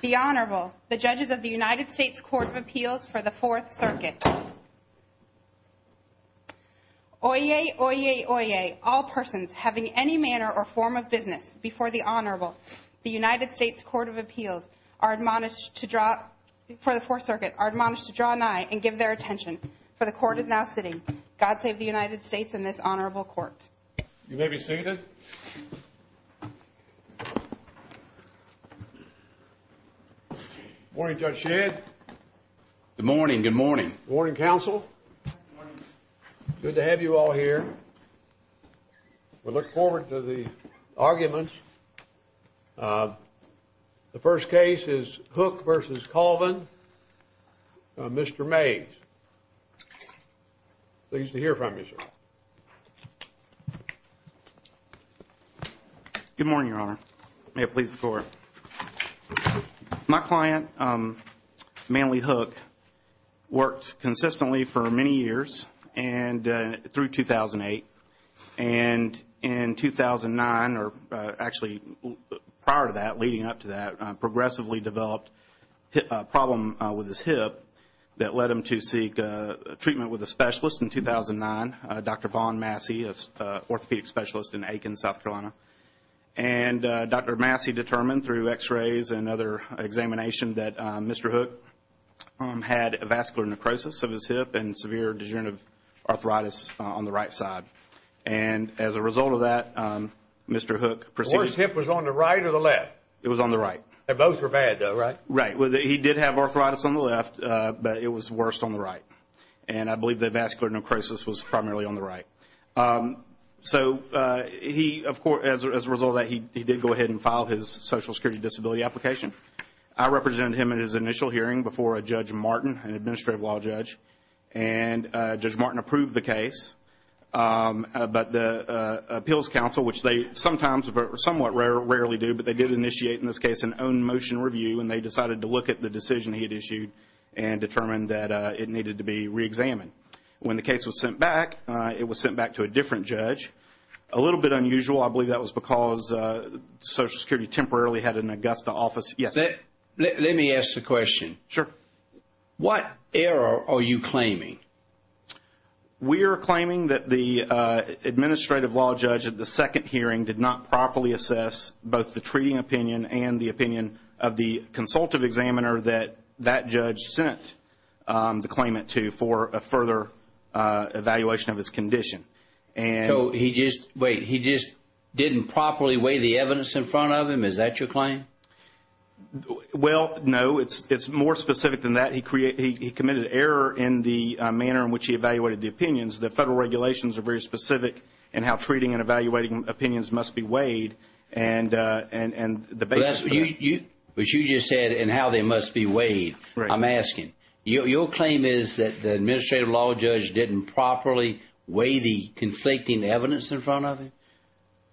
The Honorable, the judges of the United States Court of Appeals for the Fourth Circuit. Oyez, oyez, oyez, all persons having any manner or form of business before the Honorable, the United States Court of Appeals for the Fourth Circuit, are admonished to draw nigh and give their attention, for the Court is now sitting. God save the United States and this Honorable Court. You may be seated. Good morning, Judge Shedd. Good morning. Good morning. Good morning, counsel. Good morning. Good to have you all here. We look forward to the arguments. The first case is Hook v. Colvin, Mr. Mays. Pleased to hear from you, sir. Good morning, Your Honor. May it please the Court. My client, Manly Hook, worked consistently for many years and through 2008. And in 2009, or actually prior to that, leading up to that, he progressively developed a problem with his hip that led him to seek treatment with a specialist in 2009, Dr. Vaughn Massey, an orthopedic specialist in Aiken, South Carolina. And Dr. Massey determined through x-rays and other examination that Mr. Hook had vascular necrosis of his hip and severe degenerative arthritis on the right side. And as a result of that, Mr. Hook proceeded to The worst hip was on the right or the left? It was on the right. They both were bad though, right? Right. He did have arthritis on the left, but it was worse on the right. And I believe the vascular necrosis was primarily on the right. So he, of course, as a result of that, he did go ahead and file his social security disability application. I represented him in his initial hearing before a Judge Martin, an administrative law judge. And Judge Martin approved the case. But the Appeals Council, which they sometimes, somewhat rarely do, but they did initiate, in this case, an own motion review, and they decided to look at the decision he had issued and determined that it needed to be reexamined. When the case was sent back, it was sent back to a different judge. A little bit unusual. I believe that was because Social Security temporarily had an Augusta office. Yes. Let me ask the question. Sure. What error are you claiming? We are claiming that the administrative law judge at the second hearing did not properly assess both the treating opinion and the opinion of the consultative examiner that that judge sent the claimant to for a further evaluation of his condition. So he just, wait, he just didn't properly weigh the evidence in front of him? Is that your claim? Well, no. It's more specific than that. He committed error in the manner in which he evaluated the opinions. The federal regulations are very specific in how treating and evaluating opinions must be weighed and the basis for that. But you just said in how they must be weighed. Right. I'm asking. Your claim is that the administrative law judge didn't properly weigh the conflicting evidence in front of him?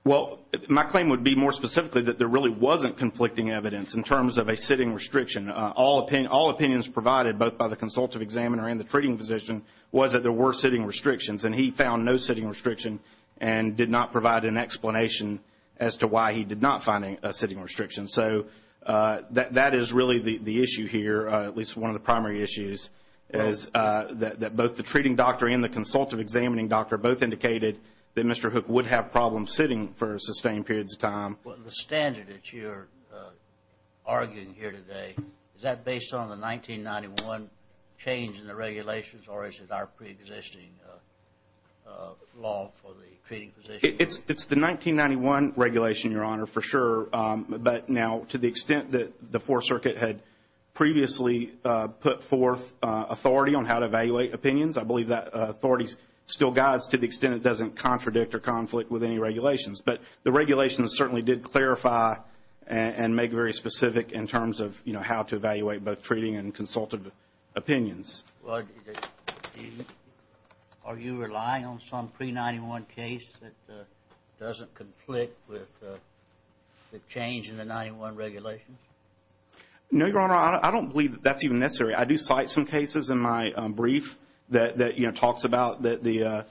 Well, my claim would be more specifically that there really wasn't conflicting evidence in terms of a sitting restriction. All opinions provided both by the consultative examiner and the treating physician was that there were sitting restrictions, and he found no sitting restriction and did not provide an explanation as to why he did not find a sitting restriction. So that is really the issue here, at least one of the primary issues, is that both the treating doctor and the consultative examining doctor both indicated that Mr. Hook would have problems sitting for sustained periods of time. The standard that you're arguing here today, is that based on the 1991 change in the regulations or is it our preexisting law for the treating physician? It's the 1991 regulation, Your Honor, for sure. But now to the extent that the Fourth Circuit had previously put forth authority on how to evaluate opinions, I believe that authority still guides to the extent it doesn't contradict or conflict with any regulations. But the regulations certainly did clarify and make it very specific in terms of, you know, how to evaluate both treating and consultative opinions. Are you relying on some pre-'91 case that doesn't conflict with the change in the 1991 regulations? No, Your Honor, I don't believe that's even necessary. I do cite some cases in my brief that, you know,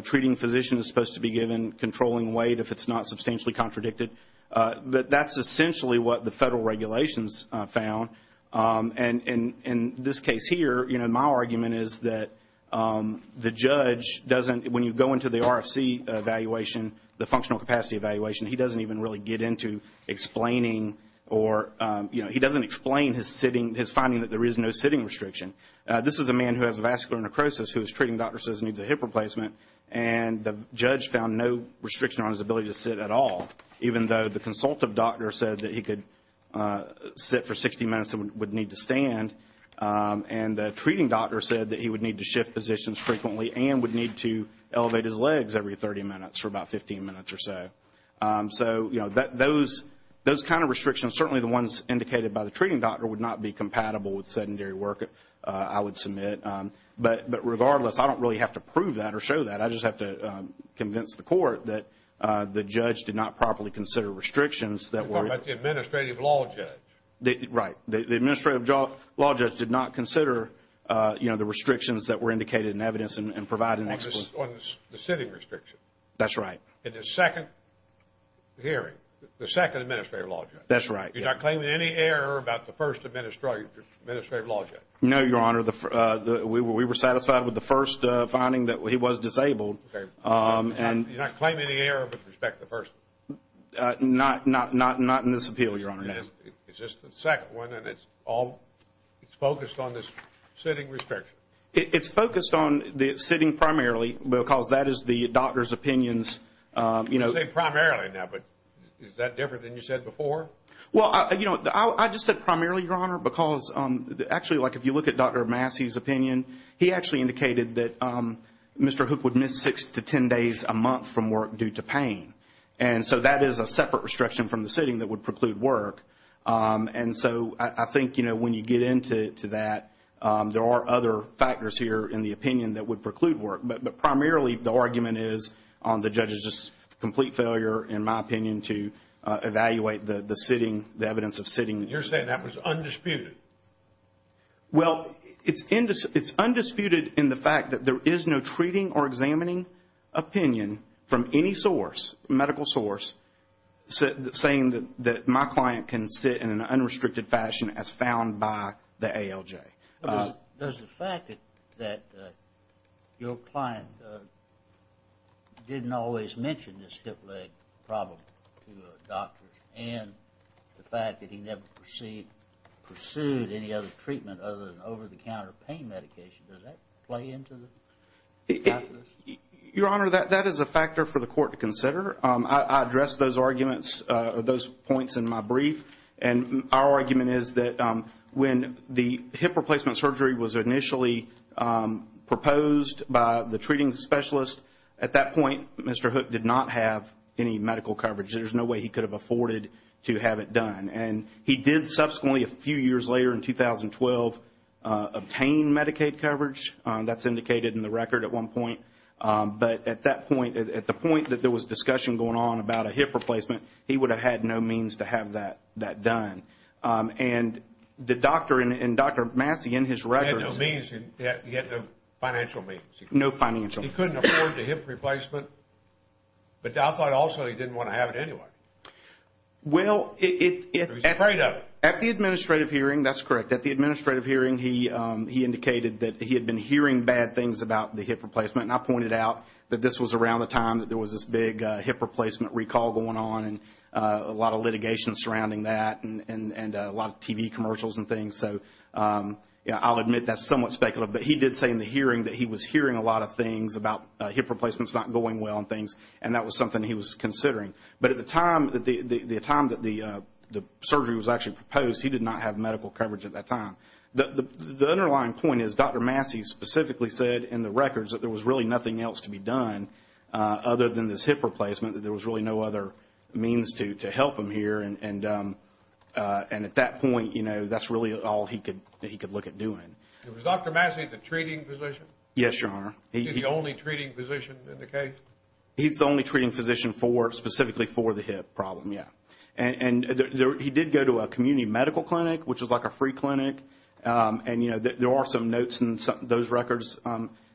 treating physician is supposed to be given controlling weight if it's not substantially contradicted. But that's essentially what the federal regulations found. And in this case here, you know, my argument is that the judge doesn't, when you go into the RFC evaluation, the functional capacity evaluation, he doesn't even really get into explaining or, you know, he doesn't explain his sitting, his finding that there is no sitting restriction. This is a man who has vascular necrosis whose treating doctor says he needs a hip replacement. And the judge found no restriction on his ability to sit at all, even though the consultative doctor said that he could sit for 60 minutes and would need to stand. And the treating doctor said that he would need to shift positions frequently and would need to elevate his legs every 30 minutes for about 15 minutes or so. So, you know, those kind of restrictions, certainly the ones indicated by the treating doctor, would not be compatible with sedentary work, I would submit. But regardless, I don't really have to prove that or show that. I just have to convince the court that the judge did not properly consider restrictions that were... You're talking about the administrative law judge. Right. The administrative law judge did not consider, you know, the restrictions that were indicated in evidence and provide an explanation. On the sitting restriction. That's right. In the second hearing, the second administrative law judge. That's right. You're not claiming any error about the first administrative law judge. No, Your Honor. We were satisfied with the first finding that he was disabled. Okay. You're not claiming any error with respect to the first one? Not in this appeal, Your Honor. It's just the second one, and it's all focused on this sitting restriction. It's focused on the sitting primarily because that is the doctor's opinions. You say primarily now, but is that different than you said before? Well, you know, I just said primarily, Your Honor, because actually like if you look at Dr. Massey's opinion, he actually indicated that Mr. Hook would miss six to ten days a month from work due to pain. And so that is a separate restriction from the sitting that would preclude work. And so I think, you know, when you get into that, there are other factors here in the opinion that would preclude work. But primarily the argument is on the judge's complete failure, in my opinion, to evaluate the sitting, the evidence of sitting. You're saying that was undisputed? Well, it's undisputed in the fact that there is no treating or examining opinion from any source, medical source, saying that my client can sit in an unrestricted fashion as found by the ALJ. Does the fact that your client didn't always mention this hip leg problem to a doctor and the fact that he never pursued any other treatment other than over-the-counter pain medication, does that play into the calculus? Your Honor, that is a factor for the court to consider. I addressed those arguments, those points in my brief. And our argument is that when the hip replacement surgery was initially proposed by the treating specialist, at that point Mr. Hook did not have any medical coverage. There's no way he could have afforded to have it done. And he did subsequently, a few years later in 2012, obtain Medicaid coverage. That's indicated in the record at one point. But at that point, at the point that there was discussion going on about a hip replacement, he would have had no means to have that done. And the doctor and Dr. Massey in his record. He had no means. He had no financial means. No financial means. He couldn't afford the hip replacement. But I thought also he didn't want to have it anyway. Well, at the administrative hearing, that's correct. At the administrative hearing he indicated that he had been hearing bad things about the hip replacement. And I pointed out that this was around the time that there was this big hip replacement recall going on and a lot of litigation surrounding that and a lot of TV commercials and things. So I'll admit that's somewhat speculative. But he did say in the hearing that he was hearing a lot of things about hip replacements not going well and things. And that was something he was considering. But at the time that the surgery was actually proposed, he did not have medical coverage at that time. The underlying point is Dr. Massey specifically said in the records that there was really nothing else to be done other than this hip replacement, that there was really no other means to help him here. And at that point, you know, that's really all he could look at doing. Was Dr. Massey the treating physician? Yes, Your Honor. He's the only treating physician in the case? He's the only treating physician specifically for the hip problem, yeah. And he did go to a community medical clinic, which is like a free clinic. And, you know, there are some notes in those records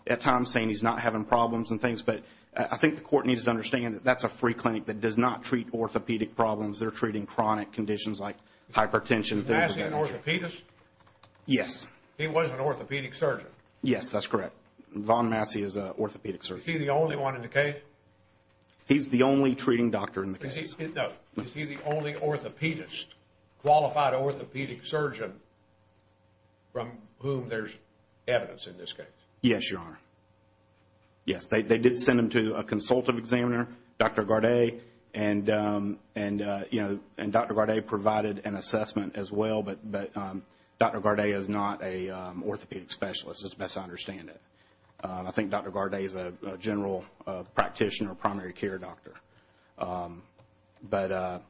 at times saying he's not having problems and things. But I think the court needs to understand that that's a free clinic that does not treat orthopedic problems. They're treating chronic conditions like hypertension. Is Massey an orthopedist? Yes. He was an orthopedic surgeon? Yes, that's correct. Von Massey is an orthopedic surgeon. Is he the only one in the case? He's the only treating doctor in the case. No, is he the only orthopedist, qualified orthopedic surgeon from whom there's evidence in this case? Yes, Your Honor. Yes, they did send him to a consultative examiner, Dr. Garday. And, you know, Dr. Garday provided an assessment as well. But Dr. Garday is not an orthopedic specialist. It's best to understand it. I think Dr. Garday is a general practitioner, primary care doctor. But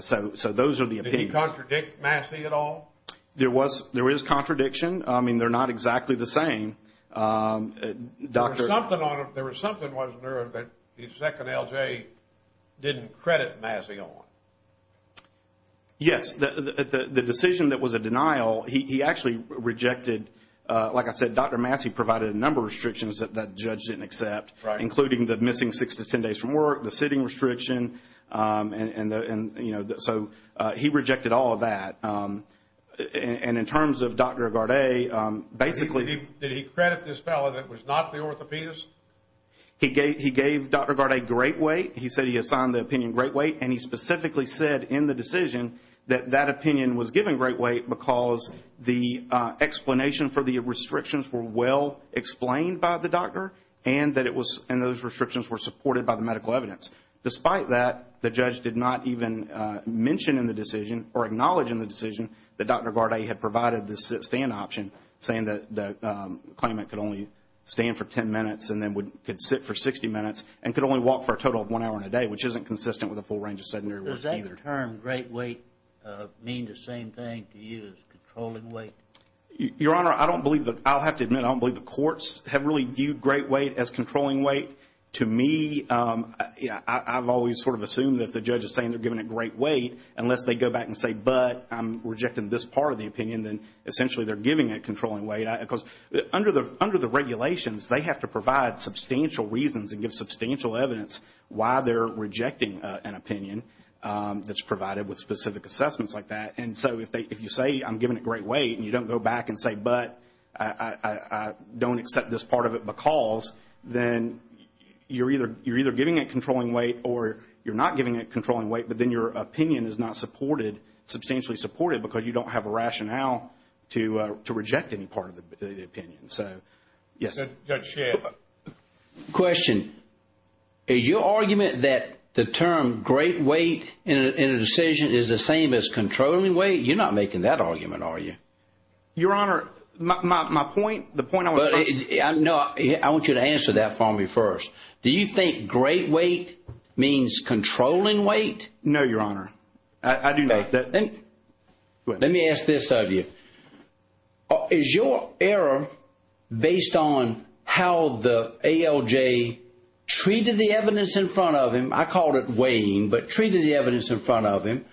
so those are the opinions. Did he contradict Massey at all? There was contradiction. I mean, they're not exactly the same. There was something, wasn't there, that the second LJ didn't credit Massey on? Yes, the decision that was a denial, he actually rejected. Like I said, Dr. Massey provided a number of restrictions that that judge didn't accept, including the missing six to ten days from work, the sitting restriction. And, you know, so he rejected all of that. And in terms of Dr. Garday, basically he... Did he credit this fellow that was not the orthopedist? He gave Dr. Garday great weight. He said he assigned the opinion great weight. And he specifically said in the decision that that opinion was given great weight because the explanation for the restrictions were well explained by the doctor and that those restrictions were supported by the medical evidence. Despite that, the judge did not even mention in the decision or acknowledge in the decision that Dr. Garday had provided the sit-stand option, saying that the claimant could only stand for ten minutes and then could sit for 60 minutes and could only walk for a total of one hour in a day, which isn't consistent with the full range of sedentary work either. Does that term, great weight, mean the same thing to you as controlling weight? Your Honor, I don't believe that. I'll have to admit I don't believe the courts have really viewed great weight as controlling weight. To me, I've always sort of assumed that if the judge is saying they're giving it great weight, unless they go back and say, but I'm rejecting this part of the opinion, then essentially they're giving it controlling weight. Because under the regulations, they have to provide substantial reasons and give substantial evidence why they're rejecting an opinion that's provided with specific assessments like that. And so if you say I'm giving it great weight and you don't go back and say, but I don't accept this part of it because, then you're either giving it controlling weight or you're not giving it controlling weight, but then your opinion is not supported, substantially supported, because you don't have a rationale to reject any part of the opinion. So, yes. Judge Shea. Question. Is your argument that the term great weight in a decision is the same as controlling weight? You're not making that argument, are you? Your Honor, my point, the point I was trying to make. No, I want you to answer that for me first. Do you think great weight means controlling weight? No, Your Honor. I do not. Let me ask this of you. Is your error based on how the ALJ treated the evidence in front of him? I called it weighing, but treated the evidence in front of him.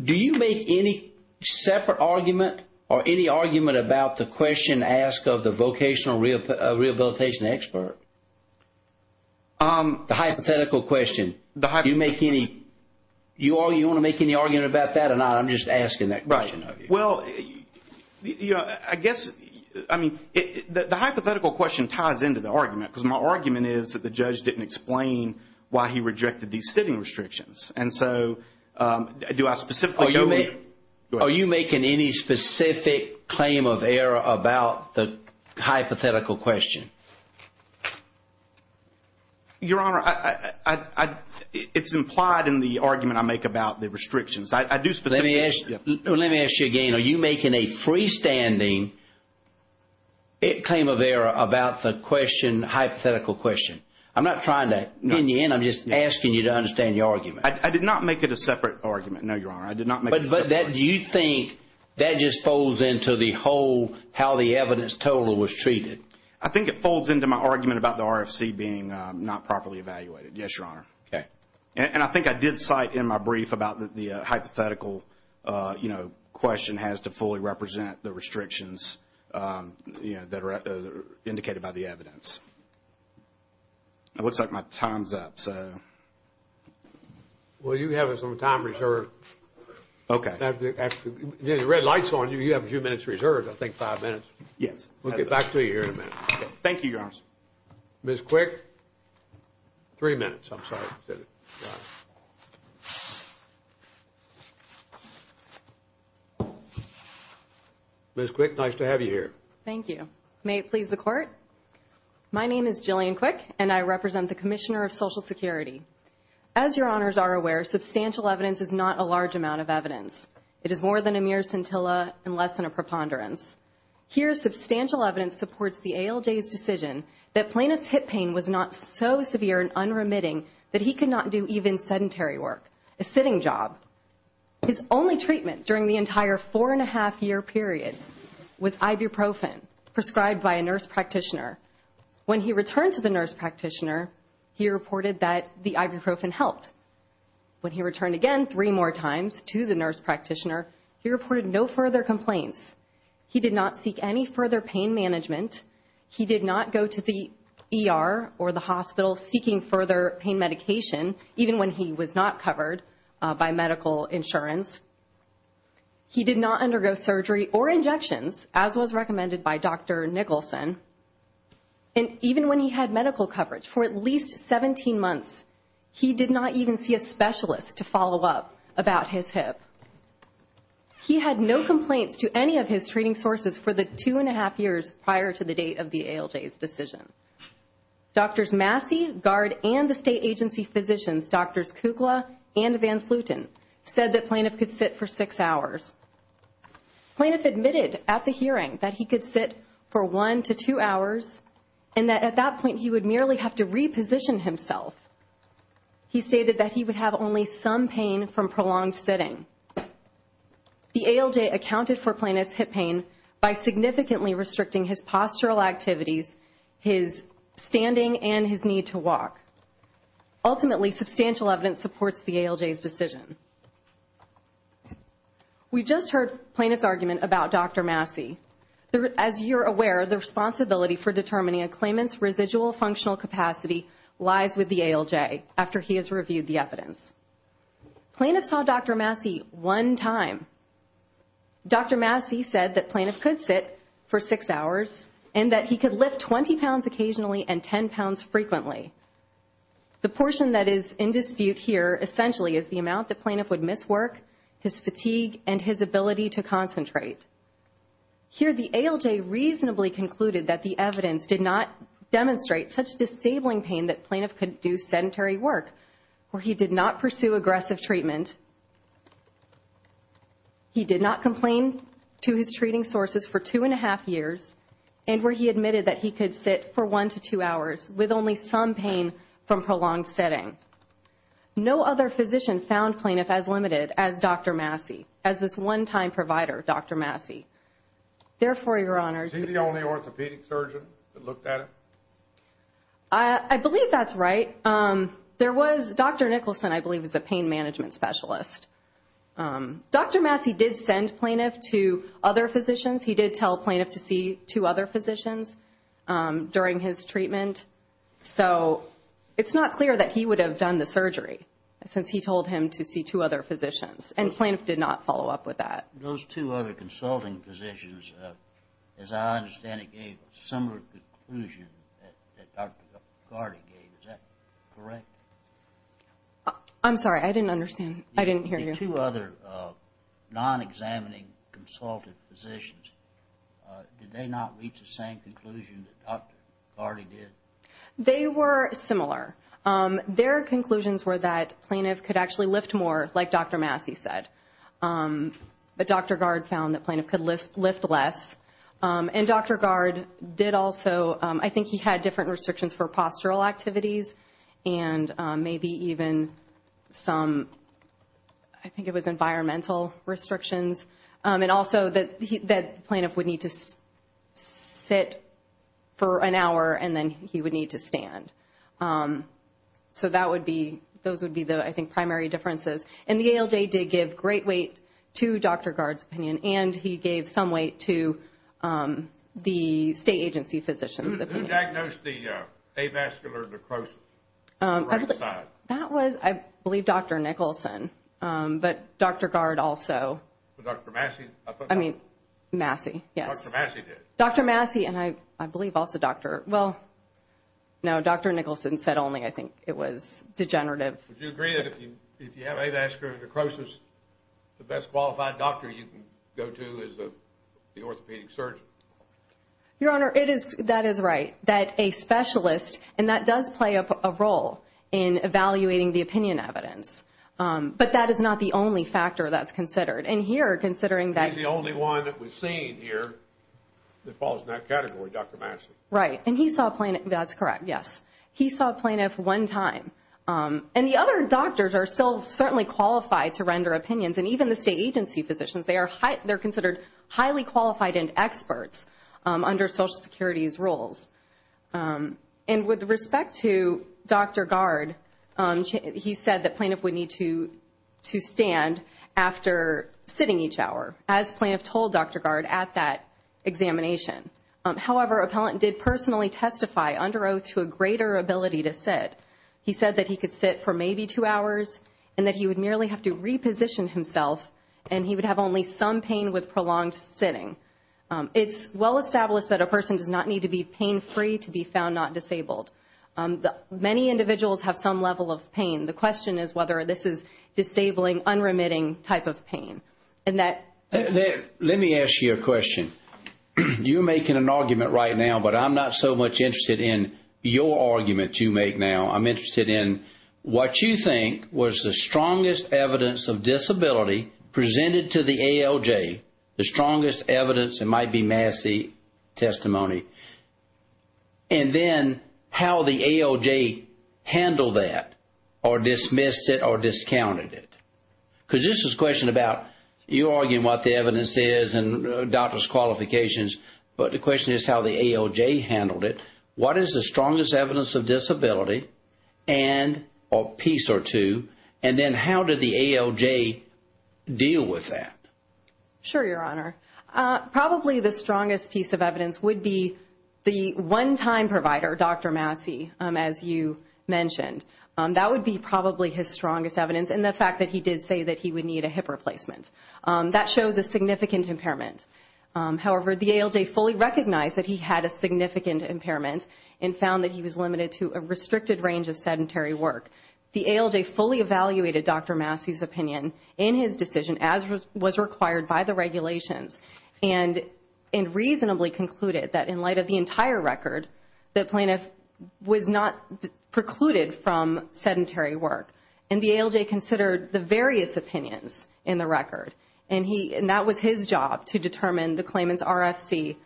Do you make any separate argument or any argument about the question asked of the vocational rehabilitation expert? The hypothetical question. Do you want to make any argument about that or not? I'm just asking that question of you. Right. Well, I guess, I mean, the hypothetical question ties into the argument, because my argument is that the judge didn't explain why he rejected these sitting restrictions. And so, do I specifically go with you? Are you making any specific claim of error about the hypothetical question? Your Honor, it's implied in the argument I make about the restrictions. I do specifically. Let me ask you again. Are you making a freestanding claim of error about the hypothetical question? I'm not trying to pin you in. I'm just asking you to understand your argument. I did not make it a separate argument. No, Your Honor. I did not make it a separate argument. But do you think that just folds into the whole how the evidence total was treated? I think it folds into my argument about the RFC being not properly evaluated. Yes, Your Honor. And I think I did cite in my brief about the hypothetical, you know, question has to fully represent the restrictions, you know, that are indicated by the evidence. It looks like my time's up, so. Well, you have some time reserved. Okay. The red light's on you. You have a few minutes reserved. I think five minutes. Yes. We'll get back to you here in a minute. Okay. Thank you, Your Honor. Ms. Quick, three minutes. I'm sorry. Ms. Quick, nice to have you here. Thank you. May it please the Court? My name is Jillian Quick, and I represent the Commissioner of Social Security. As Your Honors are aware, substantial evidence is not a large amount of evidence. It is more than a mere scintilla and less than a preponderance. Here, substantial evidence supports the ALJ's decision that plaintiff's hip pain was not so severe and unremitting that he could not do even sedentary work, a sitting job. His only treatment during the entire four-and-a-half-year period was ibuprofen prescribed by a nurse practitioner. When he returned to the nurse practitioner, he reported that the ibuprofen helped. When he returned again three more times to the nurse practitioner, he reported no further complaints. He did not seek any further pain management. He did not go to the ER or the hospital seeking further pain medication, even when he was not covered by medical insurance. He did not undergo surgery or injections, as was recommended by Dr. Nicholson. And even when he had medical coverage for at least 17 months, he did not even see a specialist to follow up about his hip. He had no complaints to any of his treating sources for the two-and-a-half years prior to the date of the ALJ's decision. Doctors Massey, Gard, and the state agency physicians, Drs. Kukla and Vansluten, said that Plaintiff could sit for six hours. Plaintiff admitted at the hearing that he could sit for one to two hours and that at that point he would merely have to reposition himself. He stated that he would have only some pain from prolonged sitting. The ALJ accounted for Plaintiff's hip pain by significantly restricting his postural activities, his standing, and his need to walk. Ultimately, substantial evidence supports the ALJ's decision. We just heard Plaintiff's argument about Dr. Massey. As you're aware, the responsibility for determining a claimant's residual functional capacity lies with the ALJ after he has reviewed the evidence. Plaintiff saw Dr. Massey one time. Dr. Massey said that Plaintiff could sit for six hours and that he could lift 20 pounds occasionally and 10 pounds frequently. The portion that is in dispute here essentially is the amount that Plaintiff would miss work, his fatigue, and his ability to concentrate. Here, the ALJ reasonably concluded that the evidence did not demonstrate such disabling pain that Plaintiff could do sedentary work or he did not pursue aggressive treatment. He did not complain to his treating sources for two and a half years and where he admitted that he could sit for one to two hours with only some pain from prolonged sitting. No other physician found Plaintiff as limited as Dr. Massey, as this one-time provider, Dr. Massey. Therefore, Your Honors... Is he the only orthopedic surgeon that looked at it? I believe that's right. Dr. Nicholson, I believe, is a pain management specialist. Dr. Massey did send Plaintiff to other physicians. He did tell Plaintiff to see two other physicians during his treatment. So, it's not clear that he would have done the surgery since he told him to see two other physicians and Plaintiff did not follow up with that. Those two other consulting physicians, as I understand it, gave a similar conclusion that Dr. McCarty gave. Is that correct? I'm sorry. I didn't understand. I didn't hear you. The two other non-examining consulted physicians, did they not reach the same conclusion that Dr. McCarty did? They were similar. Their conclusions were that Plaintiff could actually lift more, like Dr. Massey said. But Dr. Gard found that Plaintiff could lift less. And Dr. Gard did also... I think he had different restrictions for postural activities and maybe even some... I think it was environmental restrictions. And also that Plaintiff would need to sit for an hour and then he would need to stand. So, those would be the, I think, primary differences. And the ALJ did give great weight to Dr. Gard's opinion and he gave some weight to the state agency physicians. Who diagnosed the avascular necrosis? That was, I believe, Dr. Nicholson. But Dr. Gard also... Dr. Massey? I mean, Massey, yes. Dr. Massey did. Dr. Massey and I believe also Dr... Well, no, Dr. Nicholson said only, I think, it was degenerative. Would you agree that if you have avascular necrosis, the best qualified doctor you can go to is the orthopedic surgeon? Your Honor, that is right. That a specialist, and that does play a role in evaluating the opinion evidence. But that is not the only factor that's considered. And here, considering that... He's the only one that we've seen here that falls in that category, Dr. Massey. Right, and he saw a plaintiff... That's correct, yes. He saw a plaintiff one time. And the other doctors are still certainly qualified to render opinions. And even the state agency physicians, they're considered highly qualified and experts under Social Security's rules. And with respect to Dr. Gard, he said that plaintiff would need to stand after sitting each hour, as plaintiff told Dr. Gard at that examination. However, appellant did personally testify under oath to a greater ability to sit. He said that he could sit for maybe two hours and that he would merely have to reposition himself and he would have only some pain with prolonged sitting. It's well established that a person does not need to be pain-free to be found not disabled. Many individuals have some level of pain. The question is whether this is disabling, unremitting type of pain. Let me ask you a question. You're making an argument right now, but I'm not so much interested in your argument you make now. I'm interested in what you think was the strongest evidence of disability presented to the ALJ, the strongest evidence, it might be Massey testimony, and then how the ALJ handled that or dismissed it or discounted it. Because this is a question about you arguing what the evidence is and doctor's qualifications, but the question is how the ALJ handled it. What is the strongest evidence of disability and a piece or two, and then how did the ALJ deal with that? Sure, Your Honor. Probably the strongest piece of evidence would be the one-time provider, Dr. Massey, as you mentioned. That would be probably his strongest evidence, and the fact that he did say that he would need a hip replacement. That shows a significant impairment. However, the ALJ fully recognized that he had a significant impairment and found that he was limited to a restricted range of sedentary work. The ALJ fully evaluated Dr. Massey's opinion in his decision, as was required by the regulations, and reasonably concluded that in light of the entire record, the plaintiff was not precluded from sedentary work, and that was his job to determine the claimant's RFC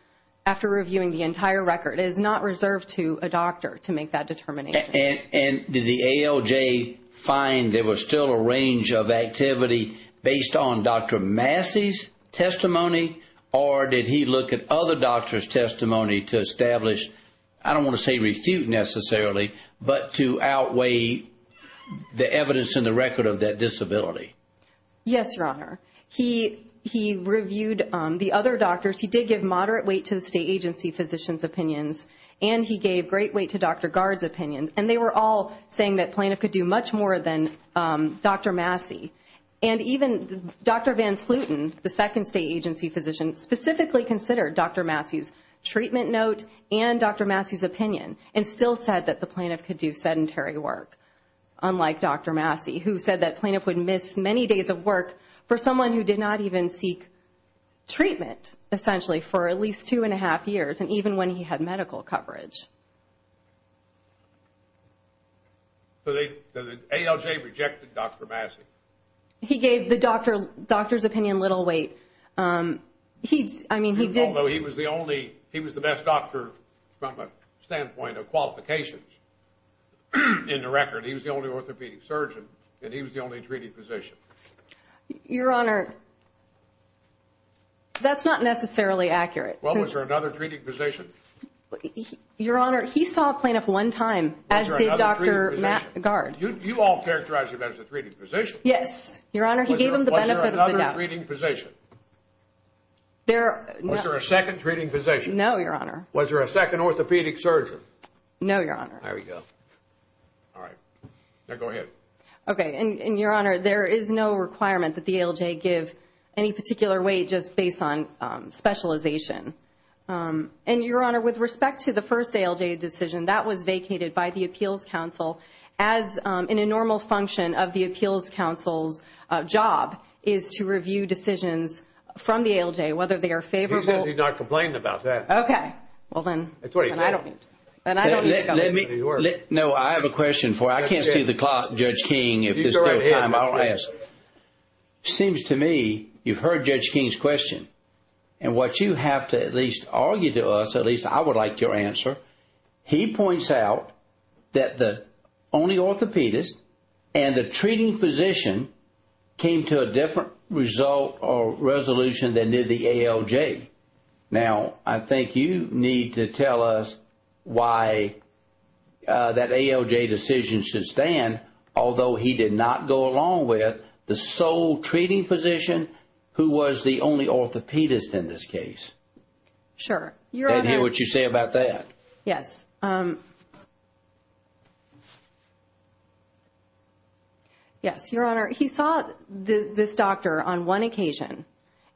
after reviewing the entire record. It is not reserved to a doctor to make that determination. Did the ALJ find there was still a range of activity based on Dr. Massey's testimony, or did he look at other doctors' testimony to establish, I don't want to say refute necessarily, but to outweigh the evidence in the record of that disability? Yes, Your Honor. He reviewed the other doctors. He did give moderate weight to the state agency physician's opinions, and he gave great weight to Dr. Gard's opinion, and they were all saying that the plaintiff could do much more than Dr. Massey. And even Dr. Van Sluyten, the second state agency physician, specifically considered Dr. Massey's treatment note and Dr. Massey's opinion, and still said that the plaintiff could do sedentary work, unlike Dr. Massey, who said that the plaintiff would miss many days of work for someone who did not even seek treatment, essentially, for at least two and a half years, and even when he had medical coverage. So the ALJ rejected Dr. Massey? He gave the doctor's opinion little weight. Although he was the best doctor from a standpoint of qualifications in the record. He was the only orthopedic surgeon, and he was the only treated physician. Your Honor, that's not necessarily accurate. Well, was there another treated physician? Your Honor, he saw a plaintiff one time as the Dr. Gard. You all characterized him as a treated physician. Was there a second treating physician? Was there a second treating physician? No, Your Honor. Was there a second orthopedic surgeon? No, Your Honor. There we go. All right. Now go ahead. Okay, and Your Honor, there is no requirement that the ALJ give any particular weight just based on specialization. And, Your Honor, with respect to the first ALJ decision, that was vacated by the Appeals Council as in a normal function of the Appeals Council's job is to review decisions from the ALJ, whether they are favorable. He's not complaining about that. Okay. Well, then, I don't need to go there. No, I have a question for you. I can't see the clock, Judge King, if there's still time. You go right ahead. I'll ask. It seems to me you've heard Judge King's question. And what you have to at least argue to us, at least I would like your answer, he points out that the only orthopedist and the treating physician came to a different result or resolution than did the ALJ. Now, I think you need to tell us why that ALJ decision should stand, although he did not go along with the sole treating physician who was the only orthopedist in this case. Sure. And hear what you say about that. Yes. Yes, Your Honor, he saw this doctor on one occasion,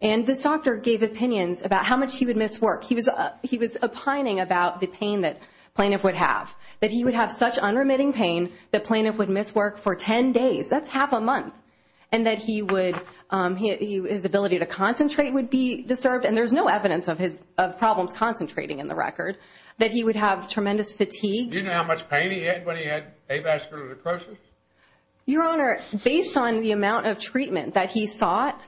and this doctor gave opinions about how much he would miss work. He was opining about the pain that plaintiff would have, that he would have such unremitting pain that plaintiff would miss work for 10 days. That's half a month. And that his ability to concentrate would be disturbed, and there's no evidence of problems concentrating in the record, that he would have tremendous fatigue. Do you know how much pain he had when he had avascular necrosis? Your Honor, based on the amount of treatment that he sought,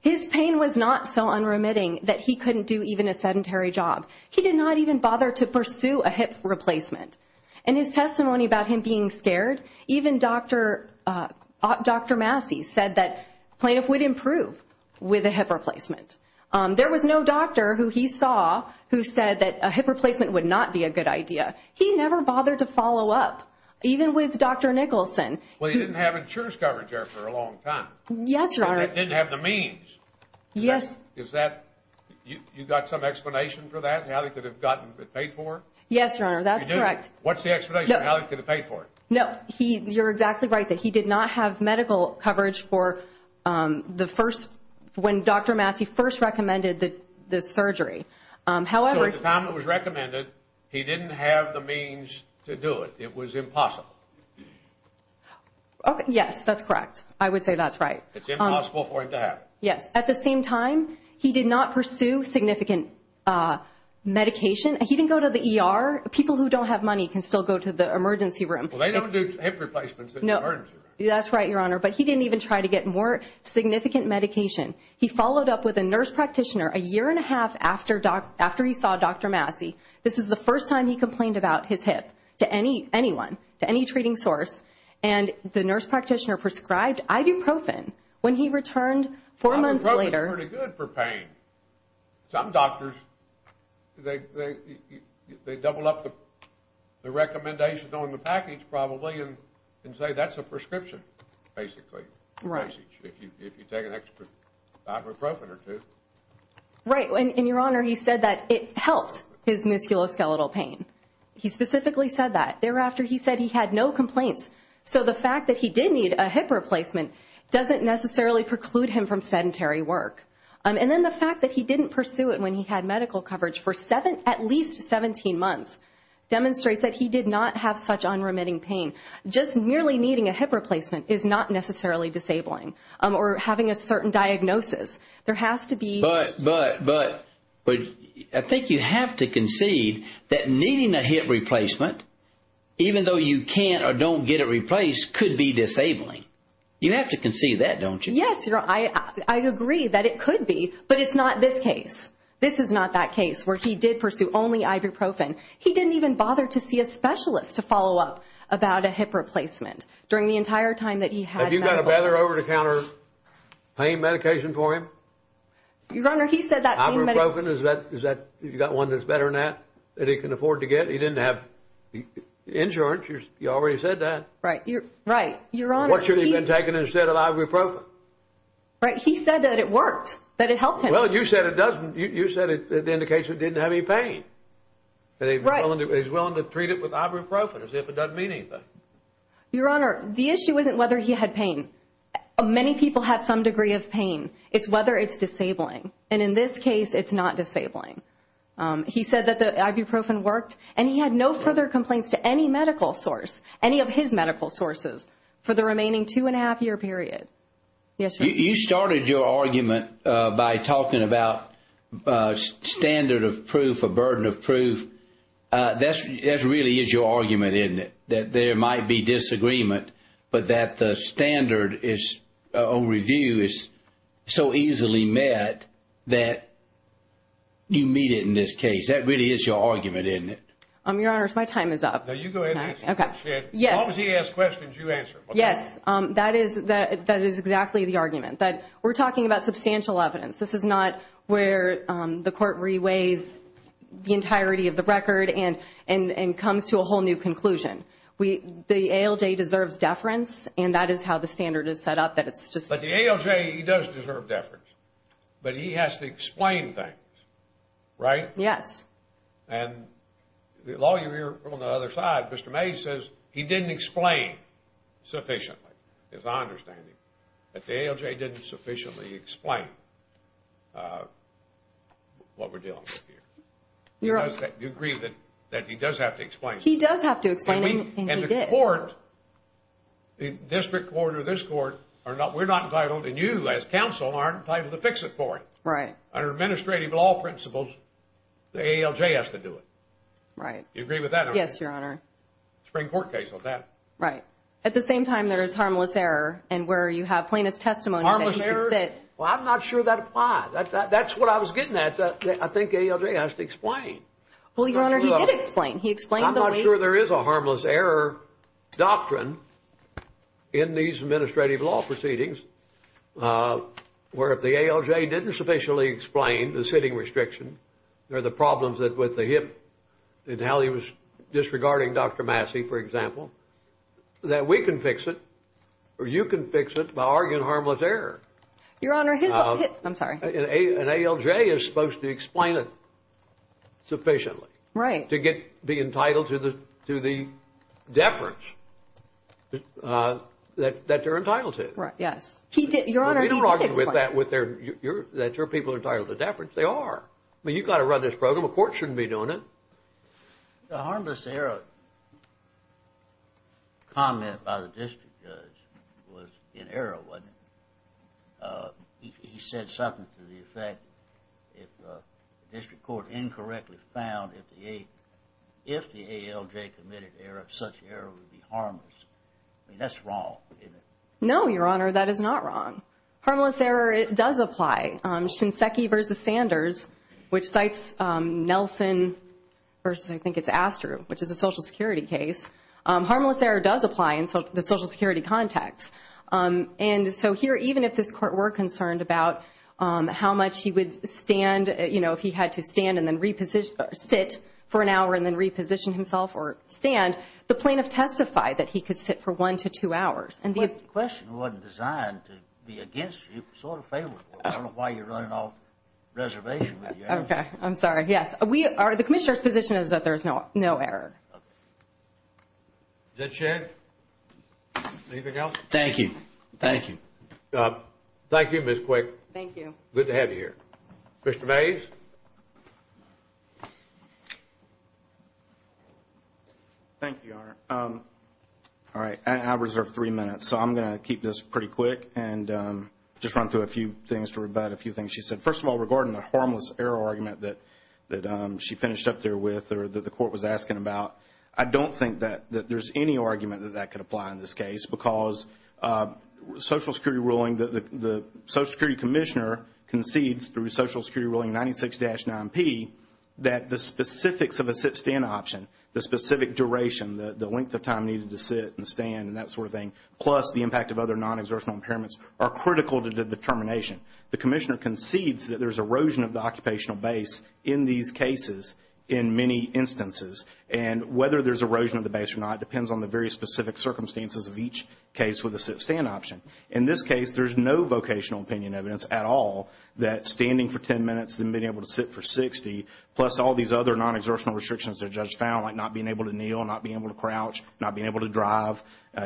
his pain was not so unremitting that he couldn't do even a sedentary job. He did not even bother to pursue a hip replacement. In his testimony about him being scared, even Dr. Massey said that plaintiff would improve with a hip replacement. There was no doctor who he saw who said that a hip replacement would not be a good idea. He never bothered to follow up, even with Dr. Nicholson. Well, he didn't have insurance coverage there for a long time. Yes, Your Honor. He didn't have the means. Yes. Is that, you got some explanation for that, how he could have gotten it paid for? Yes, Your Honor, that's correct. What's the explanation, how he could have paid for it? No, you're exactly right that he did not have medical coverage for the first, when Dr. Massey first recommended the surgery. So at the time it was recommended, he didn't have the means to do it. It was impossible. Yes, that's correct. I would say that's right. It's impossible for him to have it. Yes. At the same time, he did not pursue significant medication. He didn't go to the ER. People who don't have money can still go to the emergency room. Well, they don't do hip replacements in the emergency room. That's right, Your Honor. But he didn't even try to get more significant medication. He followed up with a nurse practitioner a year and a half after he saw Dr. Massey. This is the first time he complained about his hip to anyone, to any treating source. And the nurse practitioner prescribed ibuprofen when he returned four months later. Ibuprofen is pretty good for pain. Some doctors, they double up the recommendation on the package probably and say that's a prescription, basically, if you take an extra ibuprofen or two. Right. And, Your Honor, he said that it helped his musculoskeletal pain. He specifically said that. Thereafter, he said he had no complaints. So the fact that he did need a hip replacement doesn't necessarily preclude him from sedentary work. And then the fact that he didn't pursue it when he had medical coverage for at least 17 months demonstrates that he did not have such unremitting pain. Just merely needing a hip replacement is not necessarily disabling or having a certain diagnosis. There has to be. But I think you have to concede that needing a hip replacement, even though you can't or don't get it replaced, could be disabling. You have to concede that, don't you? Yes, Your Honor. I agree that it could be, but it's not this case. This is not that case where he did pursue only ibuprofen. He didn't even bother to see a specialist to follow up about a hip replacement during the entire time that he had medical coverage. Have you got a better over-the-counter pain medication for him? Your Honor, he said that pain medication. Ibuprofen, is that one that's better than that, that he can afford to get? He didn't have insurance. You already said that. Right. Right, Your Honor. What should he have been taking instead of ibuprofen? Right. He said that it worked, that it helped him. Well, you said it doesn't. You said it indicates that he didn't have any pain, that he's willing to treat it with ibuprofen as if it doesn't mean anything. Your Honor, the issue isn't whether he had pain. Many people have some degree of pain. It's whether it's disabling. And in this case, it's not disabling. He said that the ibuprofen worked, and he had no further complaints to any medical source, any of his medical sources, for the remaining two-and-a-half-year period. Yes, Your Honor. You started your argument by talking about standard of proof or burden of proof. That really is your argument, isn't it, that there might be disagreement, but that the standard or review is so easily met that you meet it in this case. That really is your argument, isn't it? Your Honor, my time is up. No, you go ahead and answer it. Okay. Yes. As long as he asks questions, you answer them. Yes, that is exactly the argument. We're talking about substantial evidence. This is not where the court reweighs the entirety of the record and comes to a whole new conclusion. The ALJ deserves deference, and that is how the standard is set up. But the ALJ, he does deserve deference, but he has to explain things, right? Yes. And the lawyer here on the other side, Mr. Mays, says he didn't explain sufficiently, as I understand it, that the ALJ didn't sufficiently explain what we're dealing with here. Do you agree that he does have to explain? He does have to explain, and he did. And the court, the district court or this court, we're not entitled, and you as counsel aren't entitled to fix it for him. Right. Under administrative law principles, the ALJ has to do it. Right. Do you agree with that? Yes, Your Honor. Spring court case on that. Right. At the same time, there is harmless error, and where you have plaintiff's testimony. Harmless error? Well, I'm not sure that applies. That's what I was getting at. I think ALJ has to explain. Well, Your Honor, he did explain. I'm not sure there is a harmless error doctrine in these administrative law proceedings where if the ALJ didn't sufficiently explain the sitting restriction or the problems with the hip and how he was disregarding Dr. Massey, for example, that we can fix it or you can fix it by arguing harmless error. Your Honor, his hip, I'm sorry. An ALJ is supposed to explain it sufficiently. Right. To be entitled to the deference that they're entitled to. Right. Yes. Your Honor, he did explain it. Well, we don't argue with that, that your people are entitled to deference. They are. I mean, you've got to run this program. A court shouldn't be doing it. The harmless error comment by the district judge was in error, wasn't it? He said something to the effect if the district court incorrectly found if the ALJ committed error, such error would be harmless. I mean, that's wrong, isn't it? No, your Honor, that is not wrong. Harmless error does apply. Shinseki versus Sanders, which cites Nelson versus I think it's Astru, which is a Social Security case, harmless error does apply in the Social Security context. And so here, even if this court were concerned about how much he would stand, you know, if he had to stand and then sit for an hour and then reposition himself or stand, the plaintiff testified that he could sit for one to two hours. The question wasn't designed to be against you. It was sort of favorable. I don't know why you're running off reservation with your answer. Okay, I'm sorry. Yes, the commissioner's position is that there's no error. Okay. Is that shared? Anything else? Thank you. Thank you. Thank you, Ms. Quick. Thank you. Good to have you here. Mr. Mays. Thank you, Your Honor. All right. I reserve three minutes, so I'm going to keep this pretty quick and just run through a few things to rebut a few things she said. First of all, regarding the harmless error argument that she finished up there with or that the court was asking about, I don't think that there's any argument that that could apply in this case because Social Security ruling, the Social Security commissioner concedes through Social Security ruling 96-9P that the specifics of a sit-stand option, the specific duration, the length of time needed to sit and stand and that sort of thing, plus the impact of other non-exertional impairments, are critical to the determination. The commissioner concedes that there's erosion of the occupational base in these cases in many instances, and whether there's erosion of the base or not depends on the very specific circumstances of each case with a sit-stand option. In this case, there's no vocational opinion evidence at all that standing for ten minutes and being able to sit for 60, plus all these other non-exertional restrictions the judge found, like not being able to kneel, not being able to crouch, not being able to drive,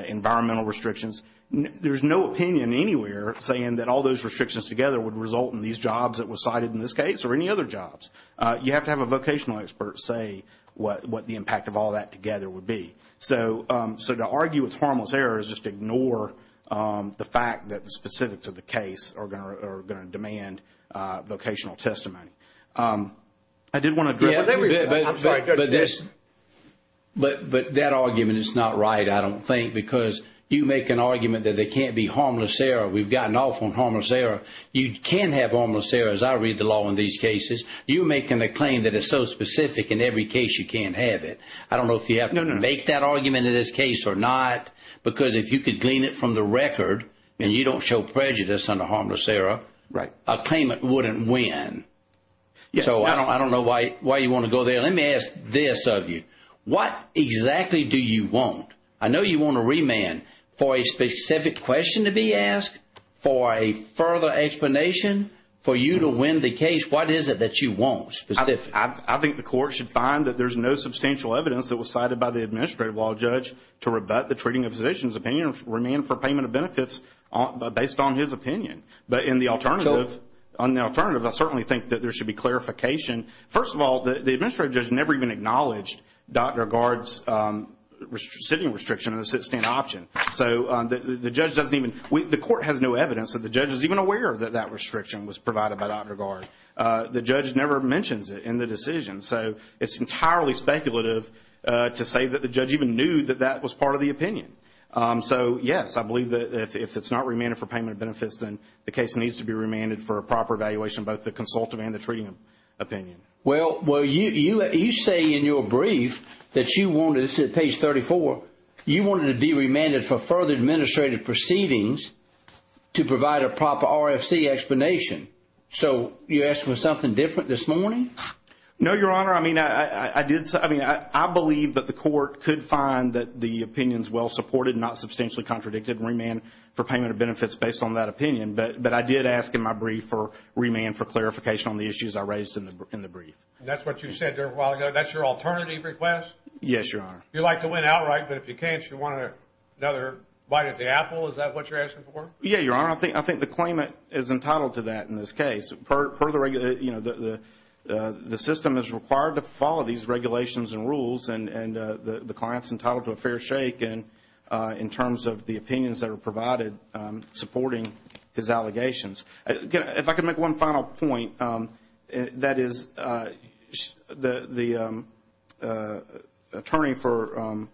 environmental restrictions. There's no opinion anywhere saying that all those restrictions together would result in these jobs that were cited in this case or any other jobs. You have to have a vocational expert say what the impact of all that together would be. So to argue it's harmless error is just ignore the fact that the specifics of the case are going to demand vocational testimony. I did want to address that. I'm sorry, Judge. But that argument is not right, I don't think, because you make an argument that there can't be harmless error. We've gotten off on harmless error. You can have harmless error, as I read the law in these cases. You're making a claim that it's so specific in every case you can have it. I don't know if you have to make that argument in this case or not, because if you could glean it from the record and you don't show prejudice under harmless error, a claimant wouldn't win. So I don't know why you want to go there. Let me ask this of you. What exactly do you want? I know you want a remand for a specific question to be asked, for a further explanation, for you to win the case. What is it that you want specifically? I think the court should find that there's no substantial evidence that was cited by the administrative law judge to rebut the treating of physicians' opinion or remand for payment of benefits based on his opinion. But on the alternative, I certainly think that there should be clarification. First of all, the administrative judge never even acknowledged Dr. Gard's sitting restriction on the sit-stand option. So the court has no evidence that the judge is even aware that that restriction was provided by Dr. Gard. The judge never mentions it in the decision. So it's entirely speculative to say that the judge even knew that that was part of the opinion. So yes, I believe that if it's not remanded for payment of benefits, then the case needs to be remanded for a proper evaluation, both the consultative and the treating opinion. Well, you say in your brief that you wanted, this is at page 34, you wanted to be remanded for further administrative proceedings to provide a proper RFC explanation. So you're asking for something different this morning? No, Your Honor. I mean, I believe that the court could find that the opinion is well supported, not substantially contradicted, remand for payment of benefits based on that opinion. But I did ask in my brief for remand for clarification on the issues I raised in the brief. That's what you said a while ago. That's your alternative request? Yes, Your Honor. You like to win outright, but if you can't, you want another bite at the apple. Is that what you're asking for? Yeah, Your Honor. I think the claimant is entitled to that in this case. You know, the system is required to follow these regulations and rules, and the client's entitled to a fair shake in terms of the opinions that are provided supporting his allegations. Again, if I could make one final point, that is the attorney for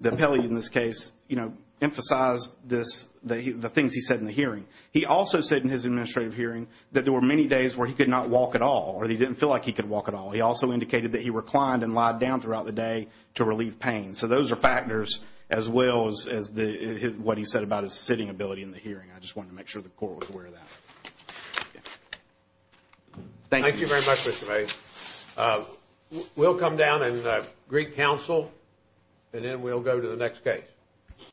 the appellee in this case, you know, emphasized the things he said in the hearing. He also said in his administrative hearing that there were many days where he could not walk at all, or he didn't feel like he could walk at all. He also indicated that he reclined and lied down throughout the day to relieve pain. So those are factors as well as what he said about his sitting ability in the hearing. I just wanted to make sure the court was aware of that. Thank you. Thank you very much, Mr. Bates. We'll come down and greet counsel, and then we'll go to the next case.